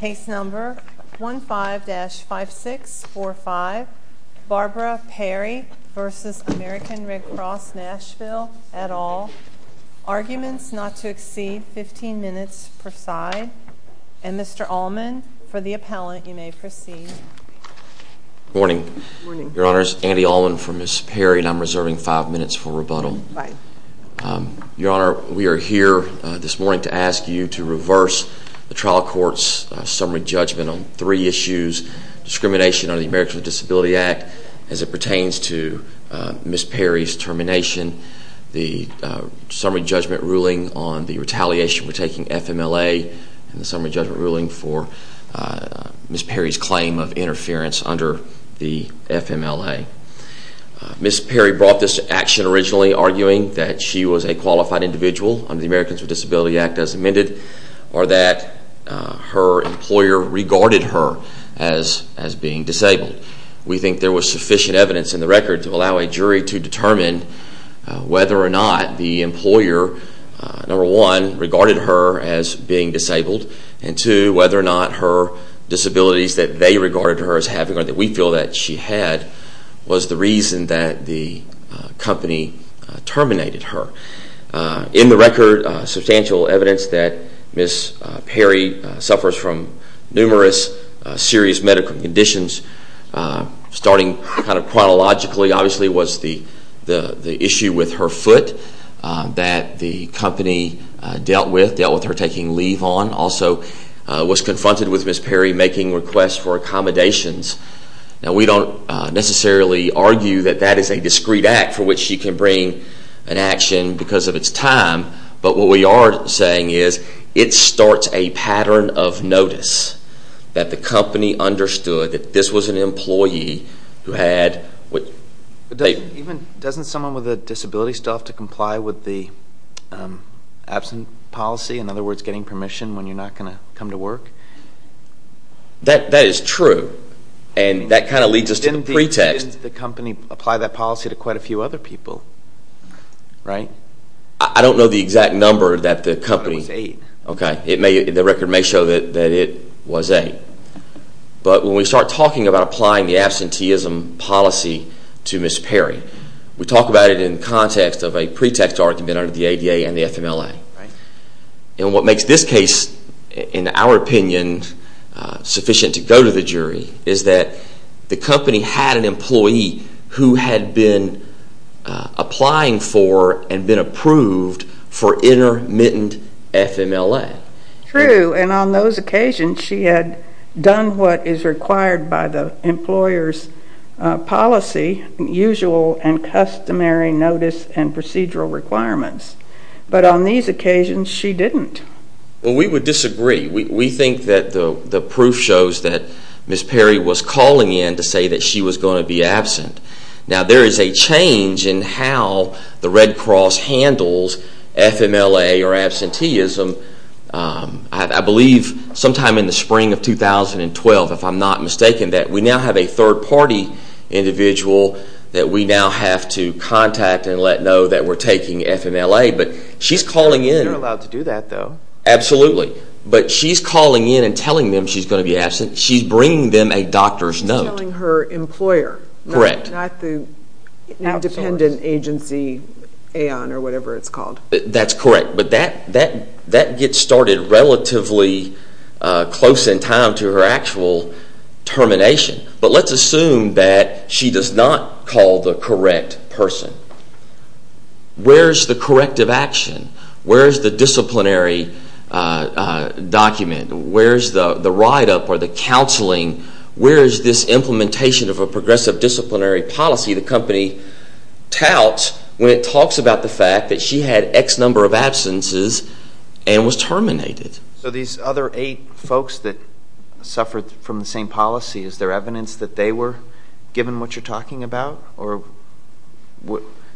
Case number 15-5645, Barbara Perry v. American Red Cross Nashville, et al. Arguments not to exceed 15 minutes preside. And Mr. Allman, for the appellant, you may proceed. Good morning. Good morning. Your Honor, it's Andy Allman for Ms. Perry, and I'm reserving 5 minutes for rebuttal. Right. Your Honor, we are here this morning to ask you to reverse the trial court's summary judgment on three issues. Discrimination under the Americans with Disabilities Act as it pertains to Ms. Perry's termination, the summary judgment ruling on the retaliation for taking FMLA, and the summary judgment ruling for Ms. Perry's claim of interference under the FMLA. Ms. Perry brought this to action originally arguing that she was a qualified individual under the Americans with Disabilities Act as amended, or that her employer regarded her as being disabled. We think there was sufficient evidence in the record to allow a jury to determine whether or not the employer, number one, regarded her as being disabled, and two, whether or not her disabilities that they regarded her as having or that we feel that she had was the reason that the company terminated her. In the record, substantial evidence that Ms. Perry suffers from numerous serious medical conditions, starting kind of chronologically, obviously, was the issue with her foot that the company dealt with, her taking leave on. Also, was confronted with Ms. Perry making requests for accommodations. Now, we don't necessarily argue that that is a discreet act for which she can bring an action because of its time, but what we are saying is it starts a pattern of notice that the company understood that this was an employee who had... Doesn't someone with a disability still have to comply with the absent policy, in other words, getting permission when you're not going to come to work? That is true, and that kind of leads us to the pretext. Didn't the company apply that policy to quite a few other people, right? I don't know the exact number that the company... It was eight. Okay, the record may show that it was eight. But when we start talking about applying the absenteeism policy to Ms. Perry, we talk about it in the context of a pretext argument under the ADA and the FMLA. And what makes this case, in our opinion, sufficient to go to the jury is that the company had an employee who had been applying for and been approved for intermittent FMLA. True, and on those occasions, she had done what is required by the employer's policy, usual and customary notice and procedural requirements. But on these occasions, she didn't. Well, we would disagree. We think that the proof shows that Ms. Perry was calling in to say that she was going to be absent. Now, there is a change in how the Red Cross handles FMLA or absenteeism. I believe sometime in the spring of 2012, if I'm not mistaken, that we now have a third-party individual that we now have to contact and let know that we're taking FMLA. But she's calling in... You're allowed to do that, though. Absolutely. But she's calling in and telling them she's going to be absent. She's bringing them a doctor's note. She's telling her employer, not the independent agency, AON, or whatever it's called. That's correct. But that gets started relatively close in time to her actual termination. But let's assume that she does not call the correct person. Where is the corrective action? Where is the disciplinary document? Where is the write-up or the counseling? Where is this implementation of a progressive disciplinary policy the company touts when it talks about the fact that she had X number of absences and was terminated? So these other eight folks that suffered from the same policy, is there evidence that they were given what you're talking about?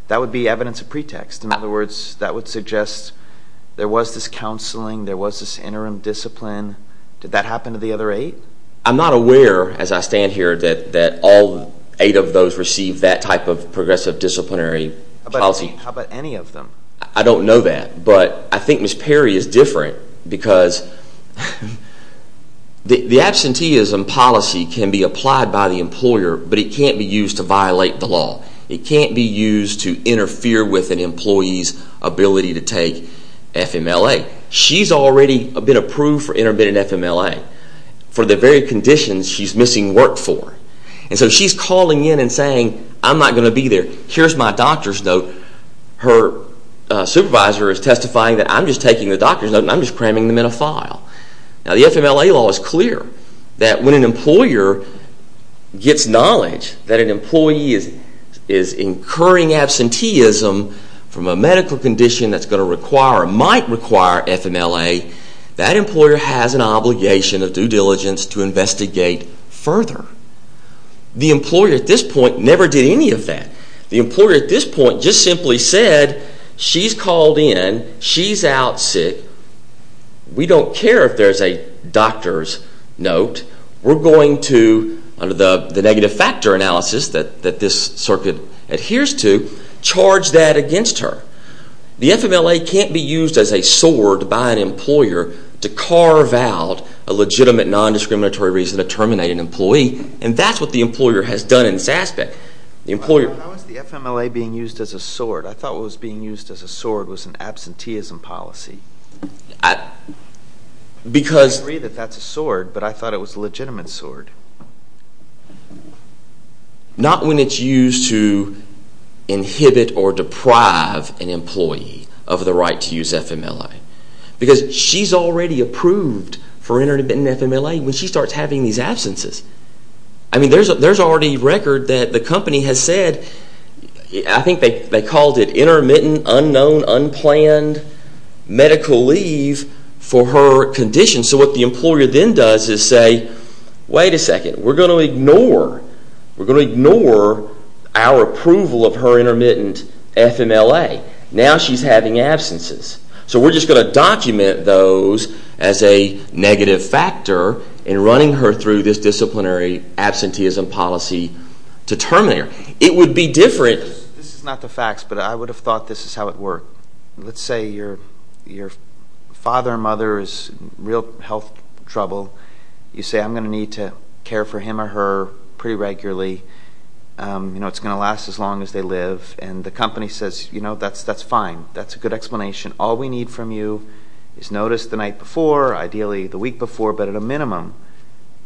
That would be evidence of pretext. In other words, that would suggest there was this counseling, there was this interim discipline. Did that happen to the other eight? I'm not aware as I stand here that all eight of those received that type of progressive disciplinary policy. How about any of them? I don't know that, but I think Ms. Perry is different because the absenteeism policy can be applied by the employer, but it can't be used to violate the law. It can't be used to interfere with an employee's ability to take FMLA. She's already been approved for intermittent FMLA for the very conditions she's missing work for. And so she's calling in and saying, I'm not going to be there, here's my doctor's note. Her supervisor is testifying that I'm just taking the doctor's note and I'm just cramming them in a file. Now the FMLA law is clear that when an employer gets knowledge that an employee is incurring absenteeism from a medical condition that's going to require or might require FMLA, that employer has an obligation of due diligence to investigate further. The employer at this point never did any of that. The employer at this point just simply said, she's called in, she's out sick, we don't care if there's a doctor's note. We're going to, under the negative factor analysis that this circuit adheres to, charge that against her. The FMLA can't be used as a sword by an employer to carve out a legitimate non-discriminatory reason to terminate an employee. And that's what the employer has done in this aspect. Why was the FMLA being used as a sword? I thought what was being used as a sword was an absenteeism policy. I agree that that's a sword, but I thought it was a legitimate sword. Not when it's used to inhibit or deprive an employee of the right to use FMLA. Because she's already approved for intermittent FMLA when she starts having these absences. I mean, there's already record that the company has said, I think they called it intermittent, unknown, unplanned medical leave for her condition. So what the employer then does is say, wait a second, we're going to ignore our approval of her intermittent FMLA. Now she's having absences. So we're just going to document those as a negative factor in running her through this disciplinary absenteeism policy to terminate her. It would be different. This is not the facts, but I would have thought this is how it worked. Let's say your father or mother is in real health trouble. You say, I'm going to need to care for him or her pretty regularly. It's going to last as long as they live. And the company says, that's fine. That's a good explanation. All we need from you is notice the night before, ideally the week before, but at a minimum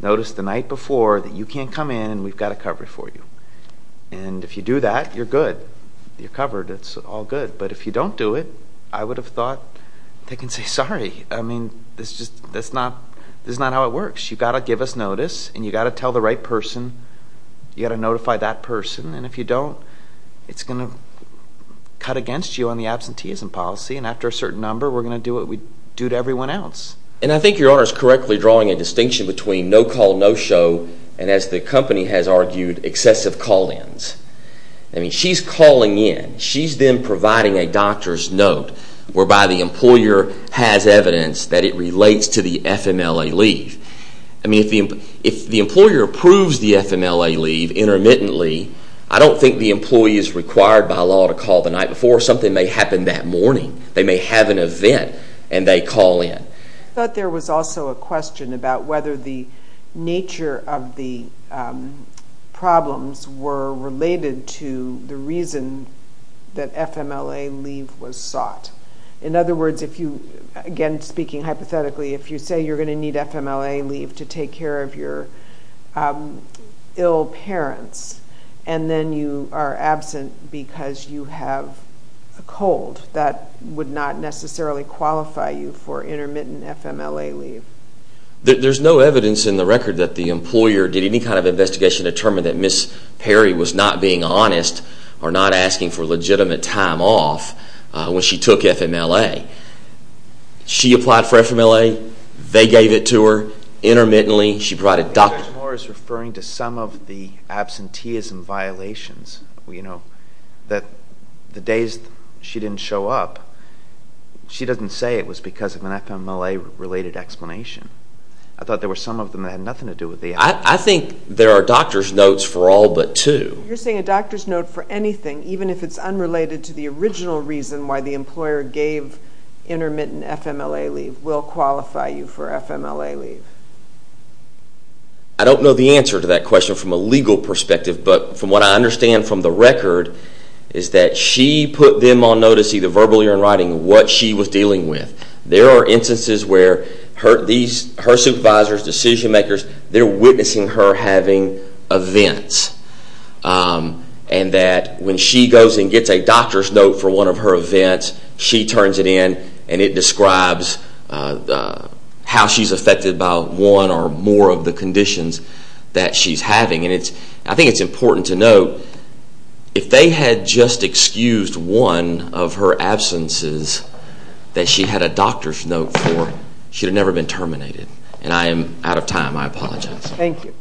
notice the night before that you can't come in and we've got it covered for you. And if you do that, you're good. You're covered. It's all good. But if you don't do it, I would have thought they can say sorry. I mean, this is not how it works. You've got to give us notice and you've got to tell the right person. You've got to notify that person. And if you don't, it's going to cut against you on the absenteeism policy. And after a certain number, we're going to do what we do to everyone else. And I think Your Honor is correctly drawing a distinction between no call, no show, and as the company has argued, excessive call-ins. I mean, she's calling in. She's then providing a doctor's note whereby the employer has evidence that it relates to the FMLA leave. I mean, if the employer approves the FMLA leave intermittently, I don't think the employee is required by law to call the night before. Something may happen that morning. They may have an event and they call in. I thought there was also a question about whether the nature of the problems were related to the reason that FMLA leave was sought. In other words, again speaking hypothetically, if you say you're going to need FMLA leave to take care of your ill parents and then you are absent because you have a cold, that would not necessarily qualify you for intermittent FMLA leave. There's no evidence in the record that the employer did any kind of investigation to determine that Ms. Perry was not being honest or not asking for legitimate time off when she took FMLA. She applied for FMLA. They gave it to her intermittently. She brought a doctor. Mr. Moore is referring to some of the absenteeism violations. The days she didn't show up, she doesn't say it was because of an FMLA-related explanation. I thought there were some of them that had nothing to do with the explanation. I think there are doctor's notes for all but two. You're saying a doctor's note for anything, even if it's unrelated to the original reason why the employer gave intermittent FMLA leave will qualify you for FMLA leave. I don't know the answer to that question from a legal perspective, but from what I understand from the record is that she put them on notice either verbally or in writing what she was dealing with. There are instances where her supervisors, decision makers, they're witnessing her having events. When she goes and gets a doctor's note for one of her events, she turns it in and it describes how she's affected by one or more of the conditions that she's having. I think it's important to note, if they had just excused one of her absences that she had a doctor's note for, she would have never been terminated. And I am out of time. I apologize. Thank you.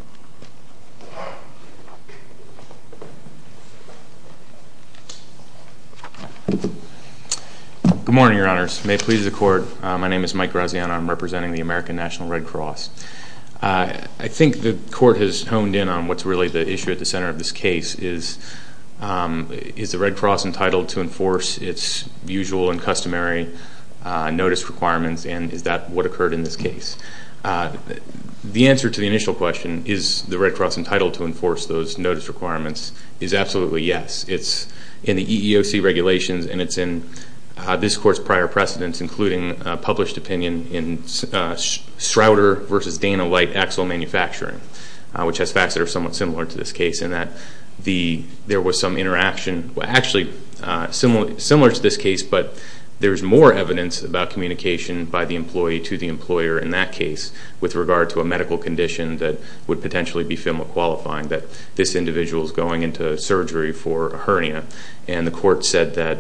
Good morning, Your Honors. May it please the Court, my name is Mike Graziano. I'm representing the American National Red Cross. I think the Court has honed in on what's really the issue at the center of this case is is the Red Cross entitled to enforce its usual and customary notice requirements and is that what occurred in this case? The answer to the initial question, is the Red Cross entitled to enforce those notice requirements, is absolutely yes. It's in the EEOC regulations and it's in this Court's prior precedents, including a published opinion in Schroeder v. Dana Light Axle Manufacturing, which has facts that are somewhat similar to this case in that there was some interaction, actually similar to this case, but there's more evidence about communication by the employee to the employer in that case with regard to a medical condition that would potentially be FIMLA qualifying, that this individual is going into surgery for a hernia. And the Court said that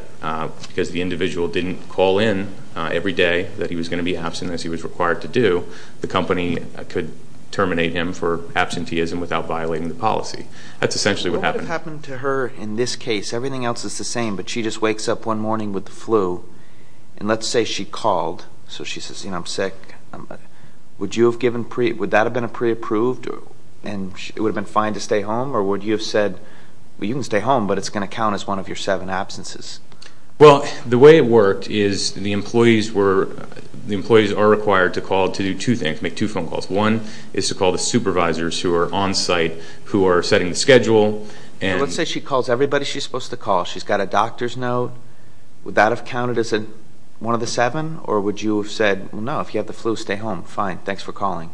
because the individual didn't call in every day that he was going to be absent as he was required to do, the company could terminate him for absenteeism without violating the policy. That's essentially what happened. What would have happened to her in this case? Everything else is the same, but she just wakes up one morning with the flu, and let's say she called, so she says, you know, I'm sick. Would that have been a pre-approved and it would have been fine to stay home, or would you have said, well, you can stay home, but it's going to count as one of your seven absences? Well, the way it worked is the employees are required to call to do two things, make two phone calls. One is to call the supervisors who are on site, who are setting the schedule. Let's say she calls everybody she's supposed to call. She's got a doctor's note. Would that have counted as one of the seven, or would you have said, well, no, if you have the flu, stay home, fine, thanks for calling?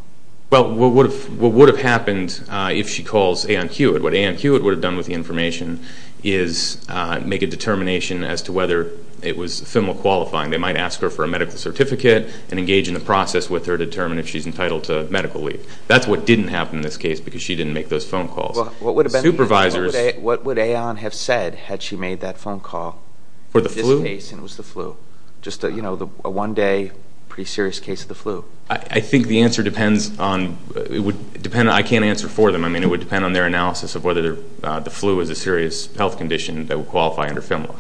Well, what would have happened if she calls Ann Hewitt, what Ann Hewitt would have done with the information is make a determination as to whether it was ephemeral qualifying. They might ask her for a medical certificate and engage in a process with her to determine if she's entitled to medical leave. That's what didn't happen in this case because she didn't make those phone calls. What would Aeon have said had she made that phone call in this case and it was the flu? Just a one-day pretty serious case of the flu. I think the answer depends on – I can't answer for them. I mean, it would depend on their analysis of whether the flu is a serious health condition that would qualify under FMLA.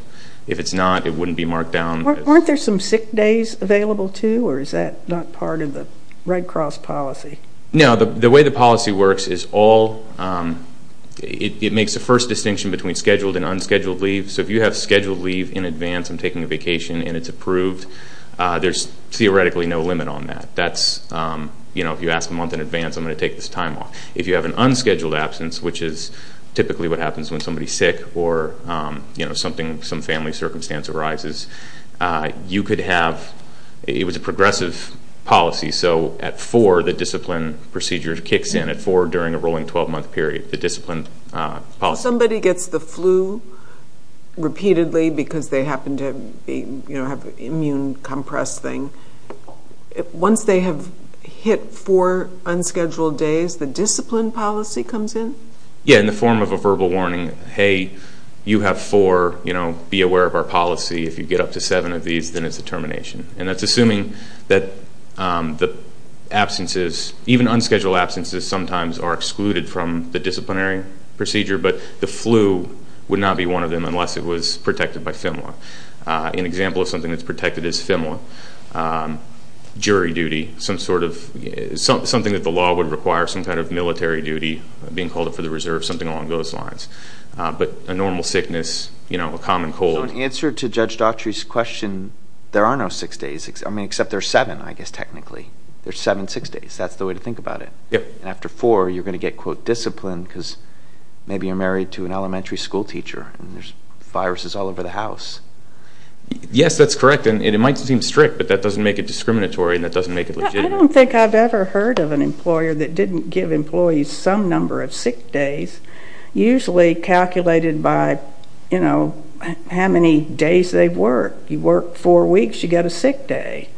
If it's not, it wouldn't be marked down. Weren't there some sick days available too, or is that not part of the Red Cross policy? No, the way the policy works is all – it makes the first distinction between scheduled and unscheduled leave. So if you have scheduled leave in advance and taking a vacation and it's approved, there's theoretically no limit on that. If you ask a month in advance, I'm going to take this time off. If you have an unscheduled absence, which is typically what happens when somebody's sick or some family circumstance arises, you could have – it was a progressive policy. So at 4, the discipline procedure kicks in at 4 during a rolling 12-month period, the discipline policy. If somebody gets the flu repeatedly because they happen to have an immune compressed thing, once they have hit 4 unscheduled days, the discipline policy comes in? Yeah, in the form of a verbal warning. Hey, you have 4, be aware of our policy. If you get up to 7 of these, then it's a termination. And that's assuming that the absences, even unscheduled absences, sometimes are excluded from the disciplinary procedure, but the flu would not be one of them unless it was protected by FIMLA. An example of something that's protected is FIMLA. Jury duty, some sort of – something that the law would require, some kind of military duty, being called up for the reserve, something along those lines. But a normal sickness, a common cold. So in answer to Judge Daughtry's question, there are no 6 days, I mean except there's 7, I guess, technically. There's 7 6 days. That's the way to think about it. And after 4, you're going to get, quote, disciplined because maybe you're married to an elementary school teacher and there's viruses all over the house. Yes, that's correct, and it might seem strict, but that doesn't make it discriminatory and that doesn't make it legitimate. I don't think I've ever heard of an employer that didn't give employees some number of 6 days, usually calculated by, you know, how many days they work. You work 4 weeks, you get a sick day.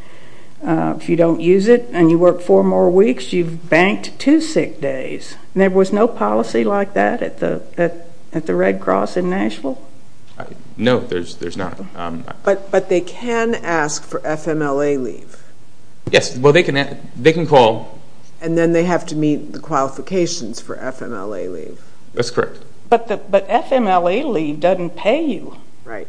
If you don't use it and you work 4 more weeks, you've banked 2 sick days. There was no policy like that at the Red Cross in Nashville? No, there's not. But they can ask for FIMLA leave. Yes, well, they can call. And then they have to meet the qualifications for FIMLA leave. That's correct. But FIMLA leave doesn't pay you. Right.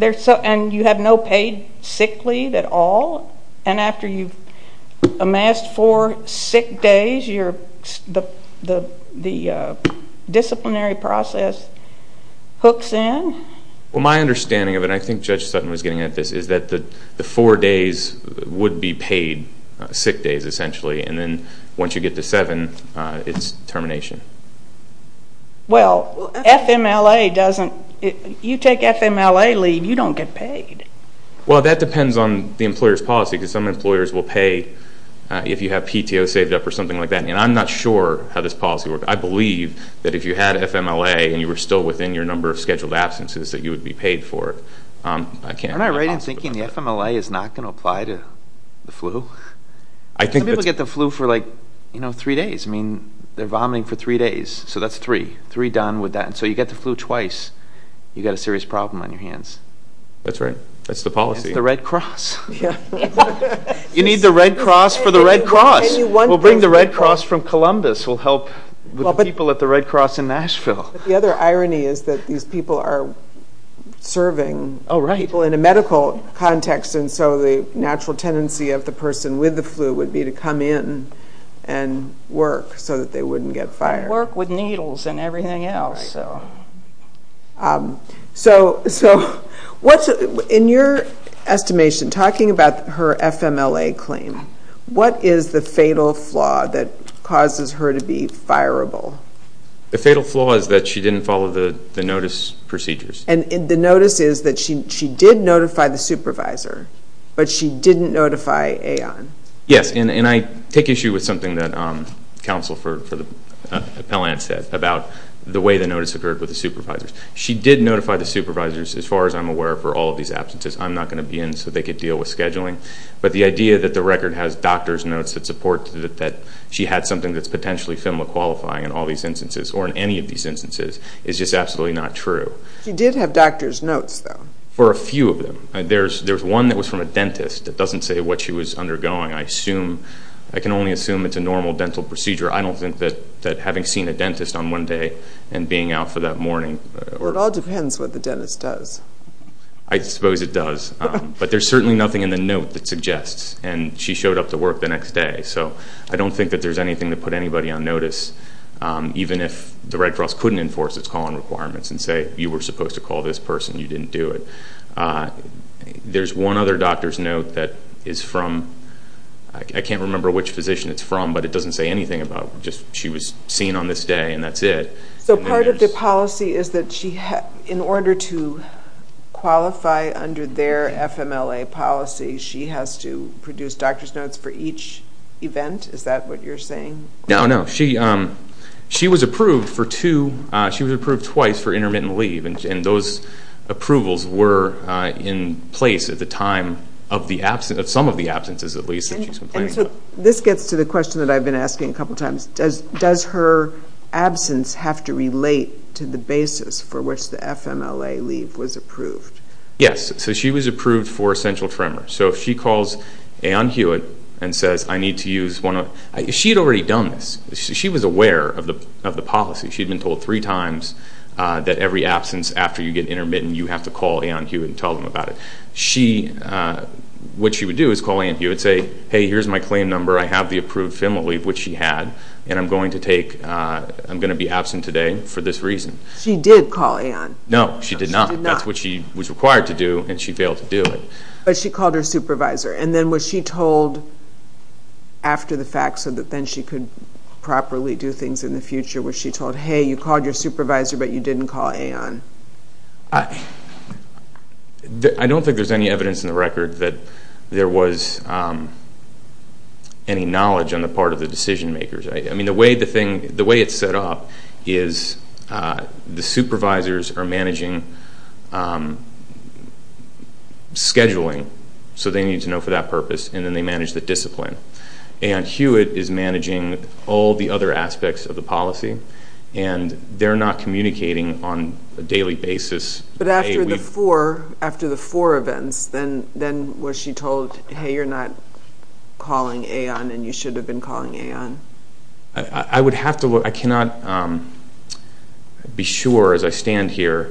And you have no paid sick leave at all? And after you've amassed 4 sick days, the disciplinary process hooks in? Well, my understanding of it, and I think Judge Sutton was getting at this, is that the 4 days would be paid, sick days essentially, and then once you get to 7, it's termination. Well, FIMLA doesn't, you take FIMLA leave, you don't get paid. Well, that depends on the employer's policy because some employers will pay if you have PTO saved up or something like that. And I'm not sure how this policy works. I believe that if you had FIMLA and you were still within your number of scheduled absences that you would be paid for it. Aren't I right in thinking the FIMLA is not going to apply to the flu? Some people get the flu for like 3 days. I mean, they're vomiting for 3 days, so that's 3, 3 done with that. And so you get the flu twice, you've got a serious problem on your hands. That's right. That's the policy. It's the Red Cross. You need the Red Cross for the Red Cross. We'll bring the Red Cross from Columbus. We'll help the people at the Red Cross in Nashville. The other irony is that these people are serving people in a medical context and so the natural tendency of the person with the flu would be to come in and work so that they wouldn't get fired. Work with needles and everything else. So in your estimation, talking about her FIMLA claim, what is the fatal flaw that causes her to be fireable? The fatal flaw is that she didn't follow the notice procedures. And the notice is that she did notify the supervisor, but she didn't notify AON. Yes, and I take issue with something that counsel for the appellant said about the way the notice occurred with the supervisors. She did notify the supervisors, as far as I'm aware, for all of these absences. I'm not going to be in so they could deal with scheduling. But the idea that the record has doctor's notes that support that she had something that's potentially FIMLA qualifying in all these instances, or in any of these instances, is just absolutely not true. She did have doctor's notes, though. For a few of them. There's one that was from a dentist that doesn't say what she was undergoing. I can only assume it's a normal dental procedure. I don't think that having seen a dentist on one day and being out for that morning. Well, it all depends what the dentist does. I suppose it does. But there's certainly nothing in the note that suggests. And she showed up to work the next day. So I don't think that there's anything to put anybody on notice, even if the Red Cross couldn't enforce its call-on requirements and say you were supposed to call this person, you didn't do it. There's one other doctor's note that is from, I can't remember which physician it's from, but it doesn't say anything about just she was seen on this day and that's it. So part of the policy is that in order to qualify under their FIMLA policy, she has to produce doctor's notes for each event? Is that what you're saying? No, no. She was approved twice for intermittent leave, and those approvals were in place at the time of some of the absences, at least. This gets to the question that I've been asking a couple times. Does her absence have to relate to the basis for which the FIMLA leave was approved? Yes. So she was approved for essential tremor. So if she calls Aeon Hewitt and says, I need to use one of them, she had already done this. She was aware of the policy. She had been told three times that every absence after you get intermittent, you have to call Aeon Hewitt and tell them about it. What she would do is call Aeon Hewitt and say, hey, here's my claim number. I have the approved FIMLA leave, which she had, and I'm going to be absent today for this reason. She did call Aeon. No, she did not. That's what she was required to do, and she failed to do it. But she called her supervisor. And then was she told after the fact so that then she could properly do things in the future? Was she told, hey, you called your supervisor, but you didn't call Aeon? I don't think there's any evidence in the record that there was any knowledge on the part of the decision makers. The way it's set up is the supervisors are managing scheduling, so they need to know for that purpose, and then they manage the discipline. Aeon Hewitt is managing all the other aspects of the policy, and they're not communicating on a daily basis. But after the four events, then was she told, hey, you're not calling Aeon and you should have been calling Aeon? I would have to look. I cannot be sure as I stand here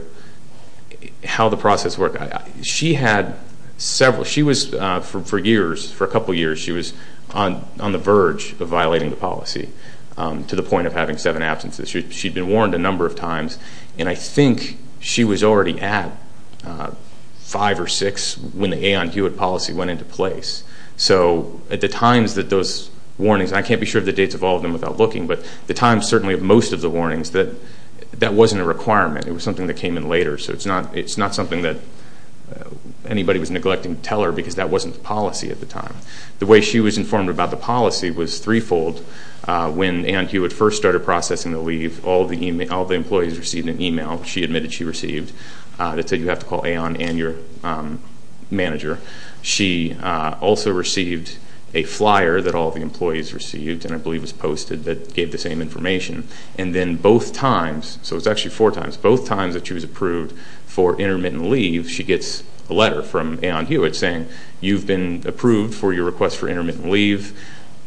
how the process worked. She had several. She was, for years, for a couple years, she was on the verge of violating the policy to the point of having seven absences. She'd been warned a number of times, and I think she was already at five or six when the Aeon Hewitt policy went into place. So at the times that those warnings, and I can't be sure of the dates of all of them without looking, but the times, certainly, of most of the warnings, that that wasn't a requirement. It was something that came in later. So it's not something that anybody was neglecting to tell her because that wasn't the policy at the time. The way she was informed about the policy was threefold. When Aeon Hewitt first started processing the leave, all the employees received an email. She admitted she received. It said you have to call Aeon and your manager. She also received a flyer that all the employees received, and I believe it was posted, that gave the same information. And then both times, so it was actually four times, both times that she was approved for intermittent leave, she gets a letter from Aeon Hewitt saying, you've been approved for your request for intermittent leave.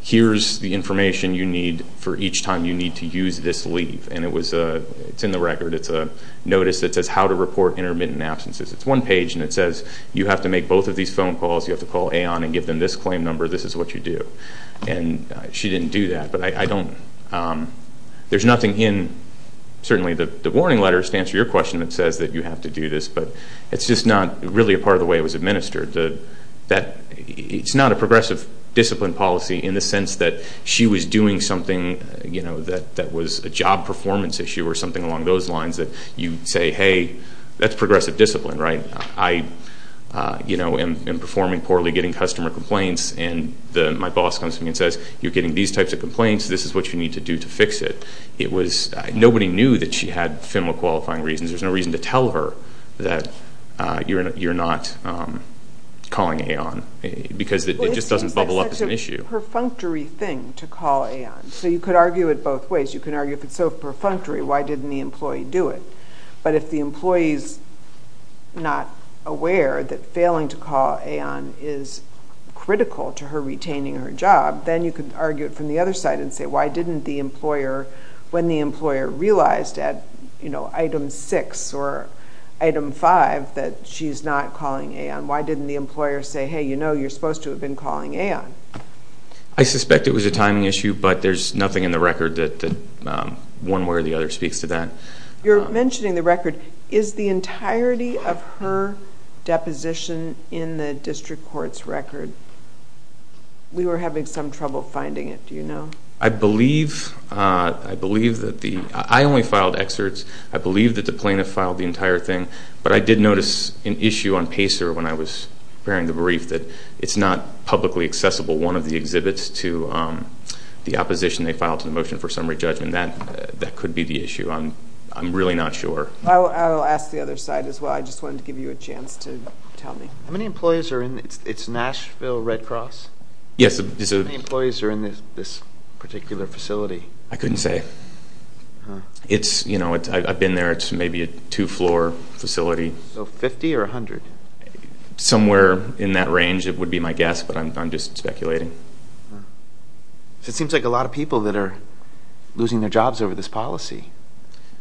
Here's the information you need for each time you need to use this leave. And it's in the record. It's a notice that says how to report intermittent absences. It's one page, and it says you have to make both of these phone calls. You have to call Aeon and give them this claim number. This is what you do. And she didn't do that, but I don't. There's nothing in certainly the warning letters to answer your question that says that you have to do this, but it's just not really a part of the way it was administered. It's not a progressive discipline policy in the sense that she was doing something that was a job performance issue or something along those lines that you say, hey, that's progressive discipline, right? I am performing poorly, getting customer complaints, and my boss comes to me and says, you're getting these types of complaints. This is what you need to do to fix it. Nobody knew that she had FIMLA qualifying reasons. There's no reason to tell her that you're not calling Aeon because it just doesn't bubble up as an issue. Well, it seems like such a perfunctory thing to call Aeon. So you could argue it both ways. You could argue if it's so perfunctory, why didn't the employee do it? But if the employee's not aware that failing to call Aeon is critical to her retaining her job, then you could argue it from the other side and say, why didn't the employer, when the employer realized at item 6 or item 5 that she's not calling Aeon, why didn't the employer say, hey, you know, you're supposed to have been calling Aeon? I suspect it was a timing issue, but there's nothing in the record that one way or the other speaks to that. You're mentioning the record. Is the entirety of her deposition in the district court's record? We were having some trouble finding it, do you know? I believe that the – I only filed excerpts. I believe that the plaintiff filed the entire thing, but I did notice an issue on PACER when I was preparing the brief that it's not publicly accessible. One of the exhibits to the opposition, they filed a motion for summary judgment. That could be the issue. I'm really not sure. I'll ask the other side as well. I just wanted to give you a chance to tell me. How many employees are in – it's Nashville Red Cross? Yes. How many employees are in this particular facility? I couldn't say. I've been there. It's maybe a two-floor facility. So 50 or 100? Somewhere in that range, it would be my guess, but I'm just speculating. It seems like a lot of people that are losing their jobs over this policy.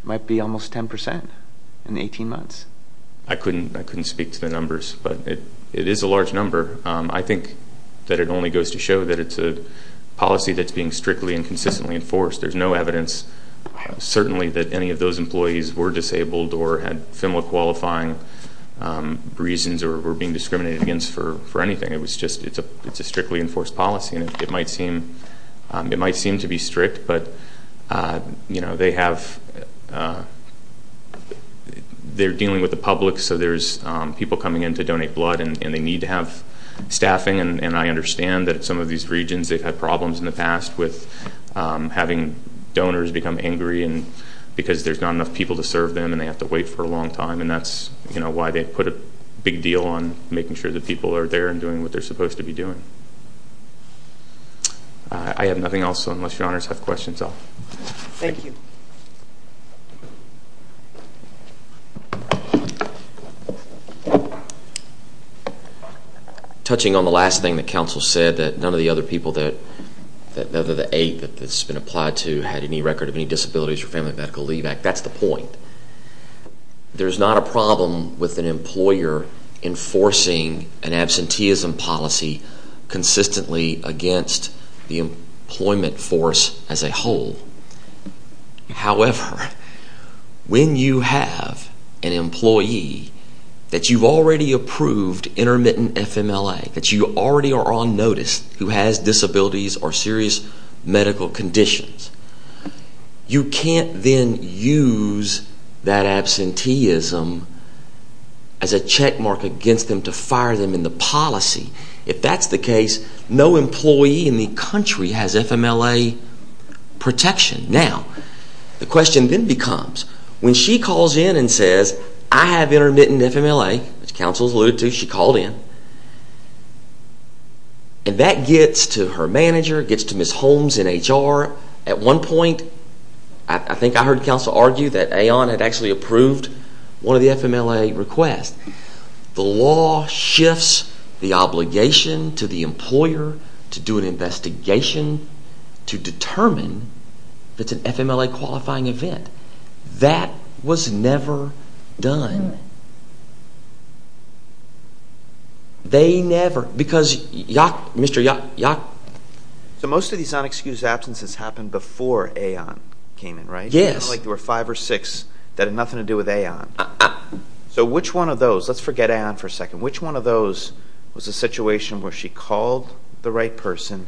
It might be almost 10% in 18 months. I couldn't speak to the numbers, but it is a large number. I think that it only goes to show that it's a policy that's being strictly and consistently enforced. There's no evidence, certainly, that any of those employees were disabled or had FIMLA-qualifying reasons or were being discriminated against for anything. It's a strictly enforced policy, and it might seem to be strict, but they're dealing with the public, so there's people coming in to donate blood, and they need to have staffing. And I understand that some of these regions, they've had problems in the past with having donors become angry because there's not enough people to serve them, and they have to wait for a long time. And that's why they put a big deal on making sure that people are there and doing what they're supposed to be doing. I have nothing else, unless your honors have questions. Thank you. Touching on the last thing that counsel said, that none of the other people, other than eight that's been applied to, had any record of any disabilities or family medical leave act. That's the point. There's not a problem with an employer enforcing an absenteeism policy consistently against the employment force as a whole. However, when you have an employee that you've already approved intermittent FIMLA, that you already are on notice who has disabilities or serious medical conditions, you can't then use that absenteeism as a checkmark against them to fire them in the policy. If that's the case, no employee in the country has FIMLA protection. Now, the question then becomes, when she calls in and says, I have intermittent FIMLA, which counsel has alluded to, she called in, and that gets to her manager, it gets to Ms. Holmes in HR. At one point, I think I heard counsel argue that AON had actually approved one of the FIMLA requests. The law shifts the obligation to the employer to do an investigation to determine if it's an FIMLA qualifying event. That was never done. They never, because Mr. Yock... So most of these unexcused absences happened before AON came in, right? Yes. It's not like there were five or six that had nothing to do with AON. So which one of those, let's forget AON for a second, which one of those was a situation where she called the right person,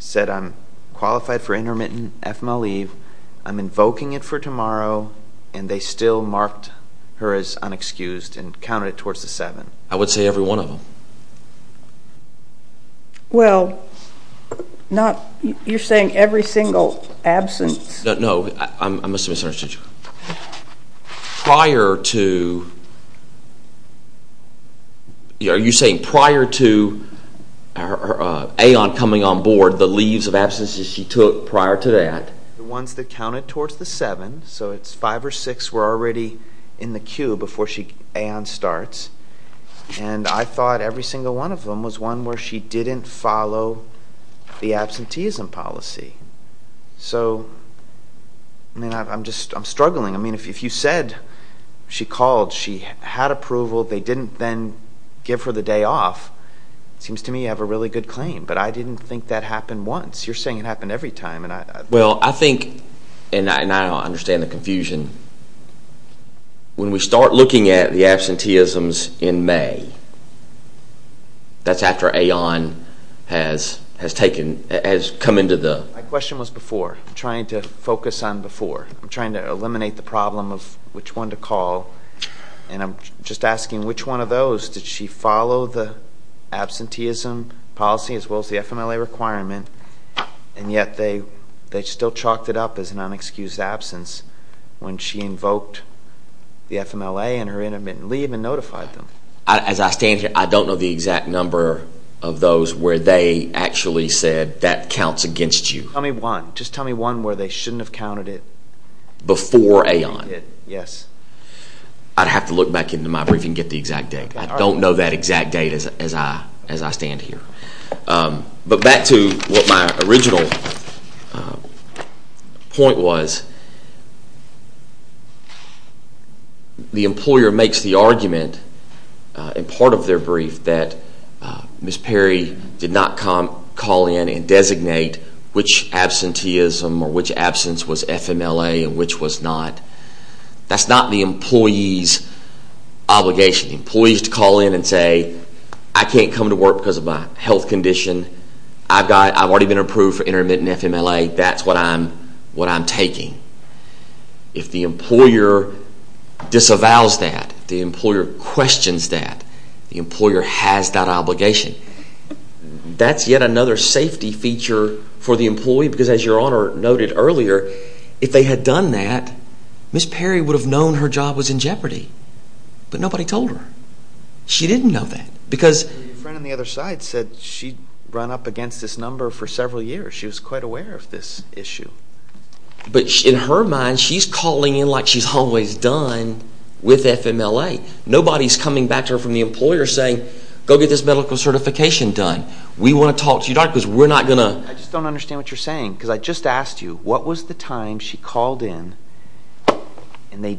said, I'm qualified for intermittent FIMLA leave, I'm invoking it for tomorrow, and they still marked her as unexcused and counted it towards the seven? I would say every one of them. Well, you're saying every single absence... No, I must have misunderstood you. Prior to... Are you saying prior to AON coming on board, the leaves of absences she took prior to that? The ones that counted towards the seven, so it's five or six were already in the queue before AON starts, and I thought every single one of them was one where she didn't follow the absenteeism policy. So, I mean, I'm struggling. I mean, if you said she called, she had approval, they didn't then give her the day off, it seems to me you have a really good claim, but I didn't think that happened once. You're saying it happened every time. Well, I think, and I understand the confusion, when we start looking at the absenteeisms in May, that's after AON has come into the... My question was before. I'm trying to focus on before. I'm trying to eliminate the problem of which one to call, and I'm just asking which one of those, did she follow the absenteeism policy as well as the FMLA requirement, and yet they still chalked it up as an unexcused absence when she invoked the FMLA and her intermittent leave and notified them? As I stand here, I don't know the exact number of those where they actually said that counts against you. Tell me one. Just tell me one where they shouldn't have counted it. Before AON. Yes. I'd have to look back into my briefing and get the exact date. I don't know that exact date as I stand here. But back to what my original point was, the employer makes the argument in part of their brief that Ms. Perry did not call in and designate which absenteeism or which absence was FMLA and which was not. That's not the employee's obligation. The employee has to call in and say, I can't come to work because of my health condition. I've already been approved for intermittent FMLA. That's what I'm taking. If the employer disavows that, if the employer questions that, the employer has that obligation. That's yet another safety feature for the employee because as Your Honor noted earlier, if they had done that, Ms. Perry would have known her job was in jeopardy. But nobody told her. She didn't know that. Your friend on the other side said she'd run up against this number for several years. She was quite aware of this issue. But in her mind, she's calling in like she's always done with FMLA. Nobody's coming back to her from the employer saying, go get this medical certification done. We want to talk to you, Doctor, because we're not going to... I just don't understand what you're saying because I just asked you, what was the time she called in and they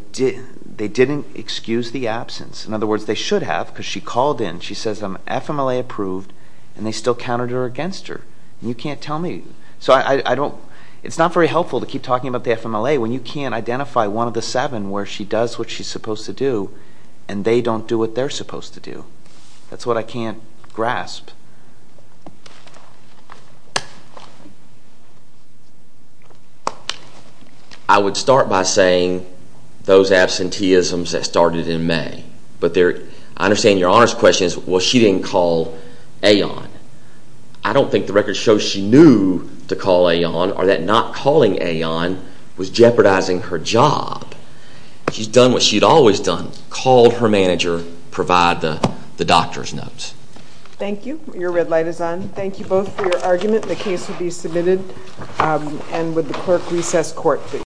didn't excuse the absence? In other words, they should have because she called in. She says, I'm FMLA approved, and they still countered her against her. You can't tell me. It's not very helpful to keep talking about the FMLA when you can't identify one of the seven where she does what she's supposed to do and they don't do what they're supposed to do. That's what I can't grasp. I would start by saying those absenteeisms that started in May. But I understand Your Honor's question is, well, she didn't call Aeon. I don't think the records show she knew to call Aeon or that not calling Aeon was jeopardizing her job. She's done what she'd always done, called her manager, provide the doctor's notes. Thank you. Your red light is on. Thank you both for your argument. The case will be submitted. And would the clerk recess court, please.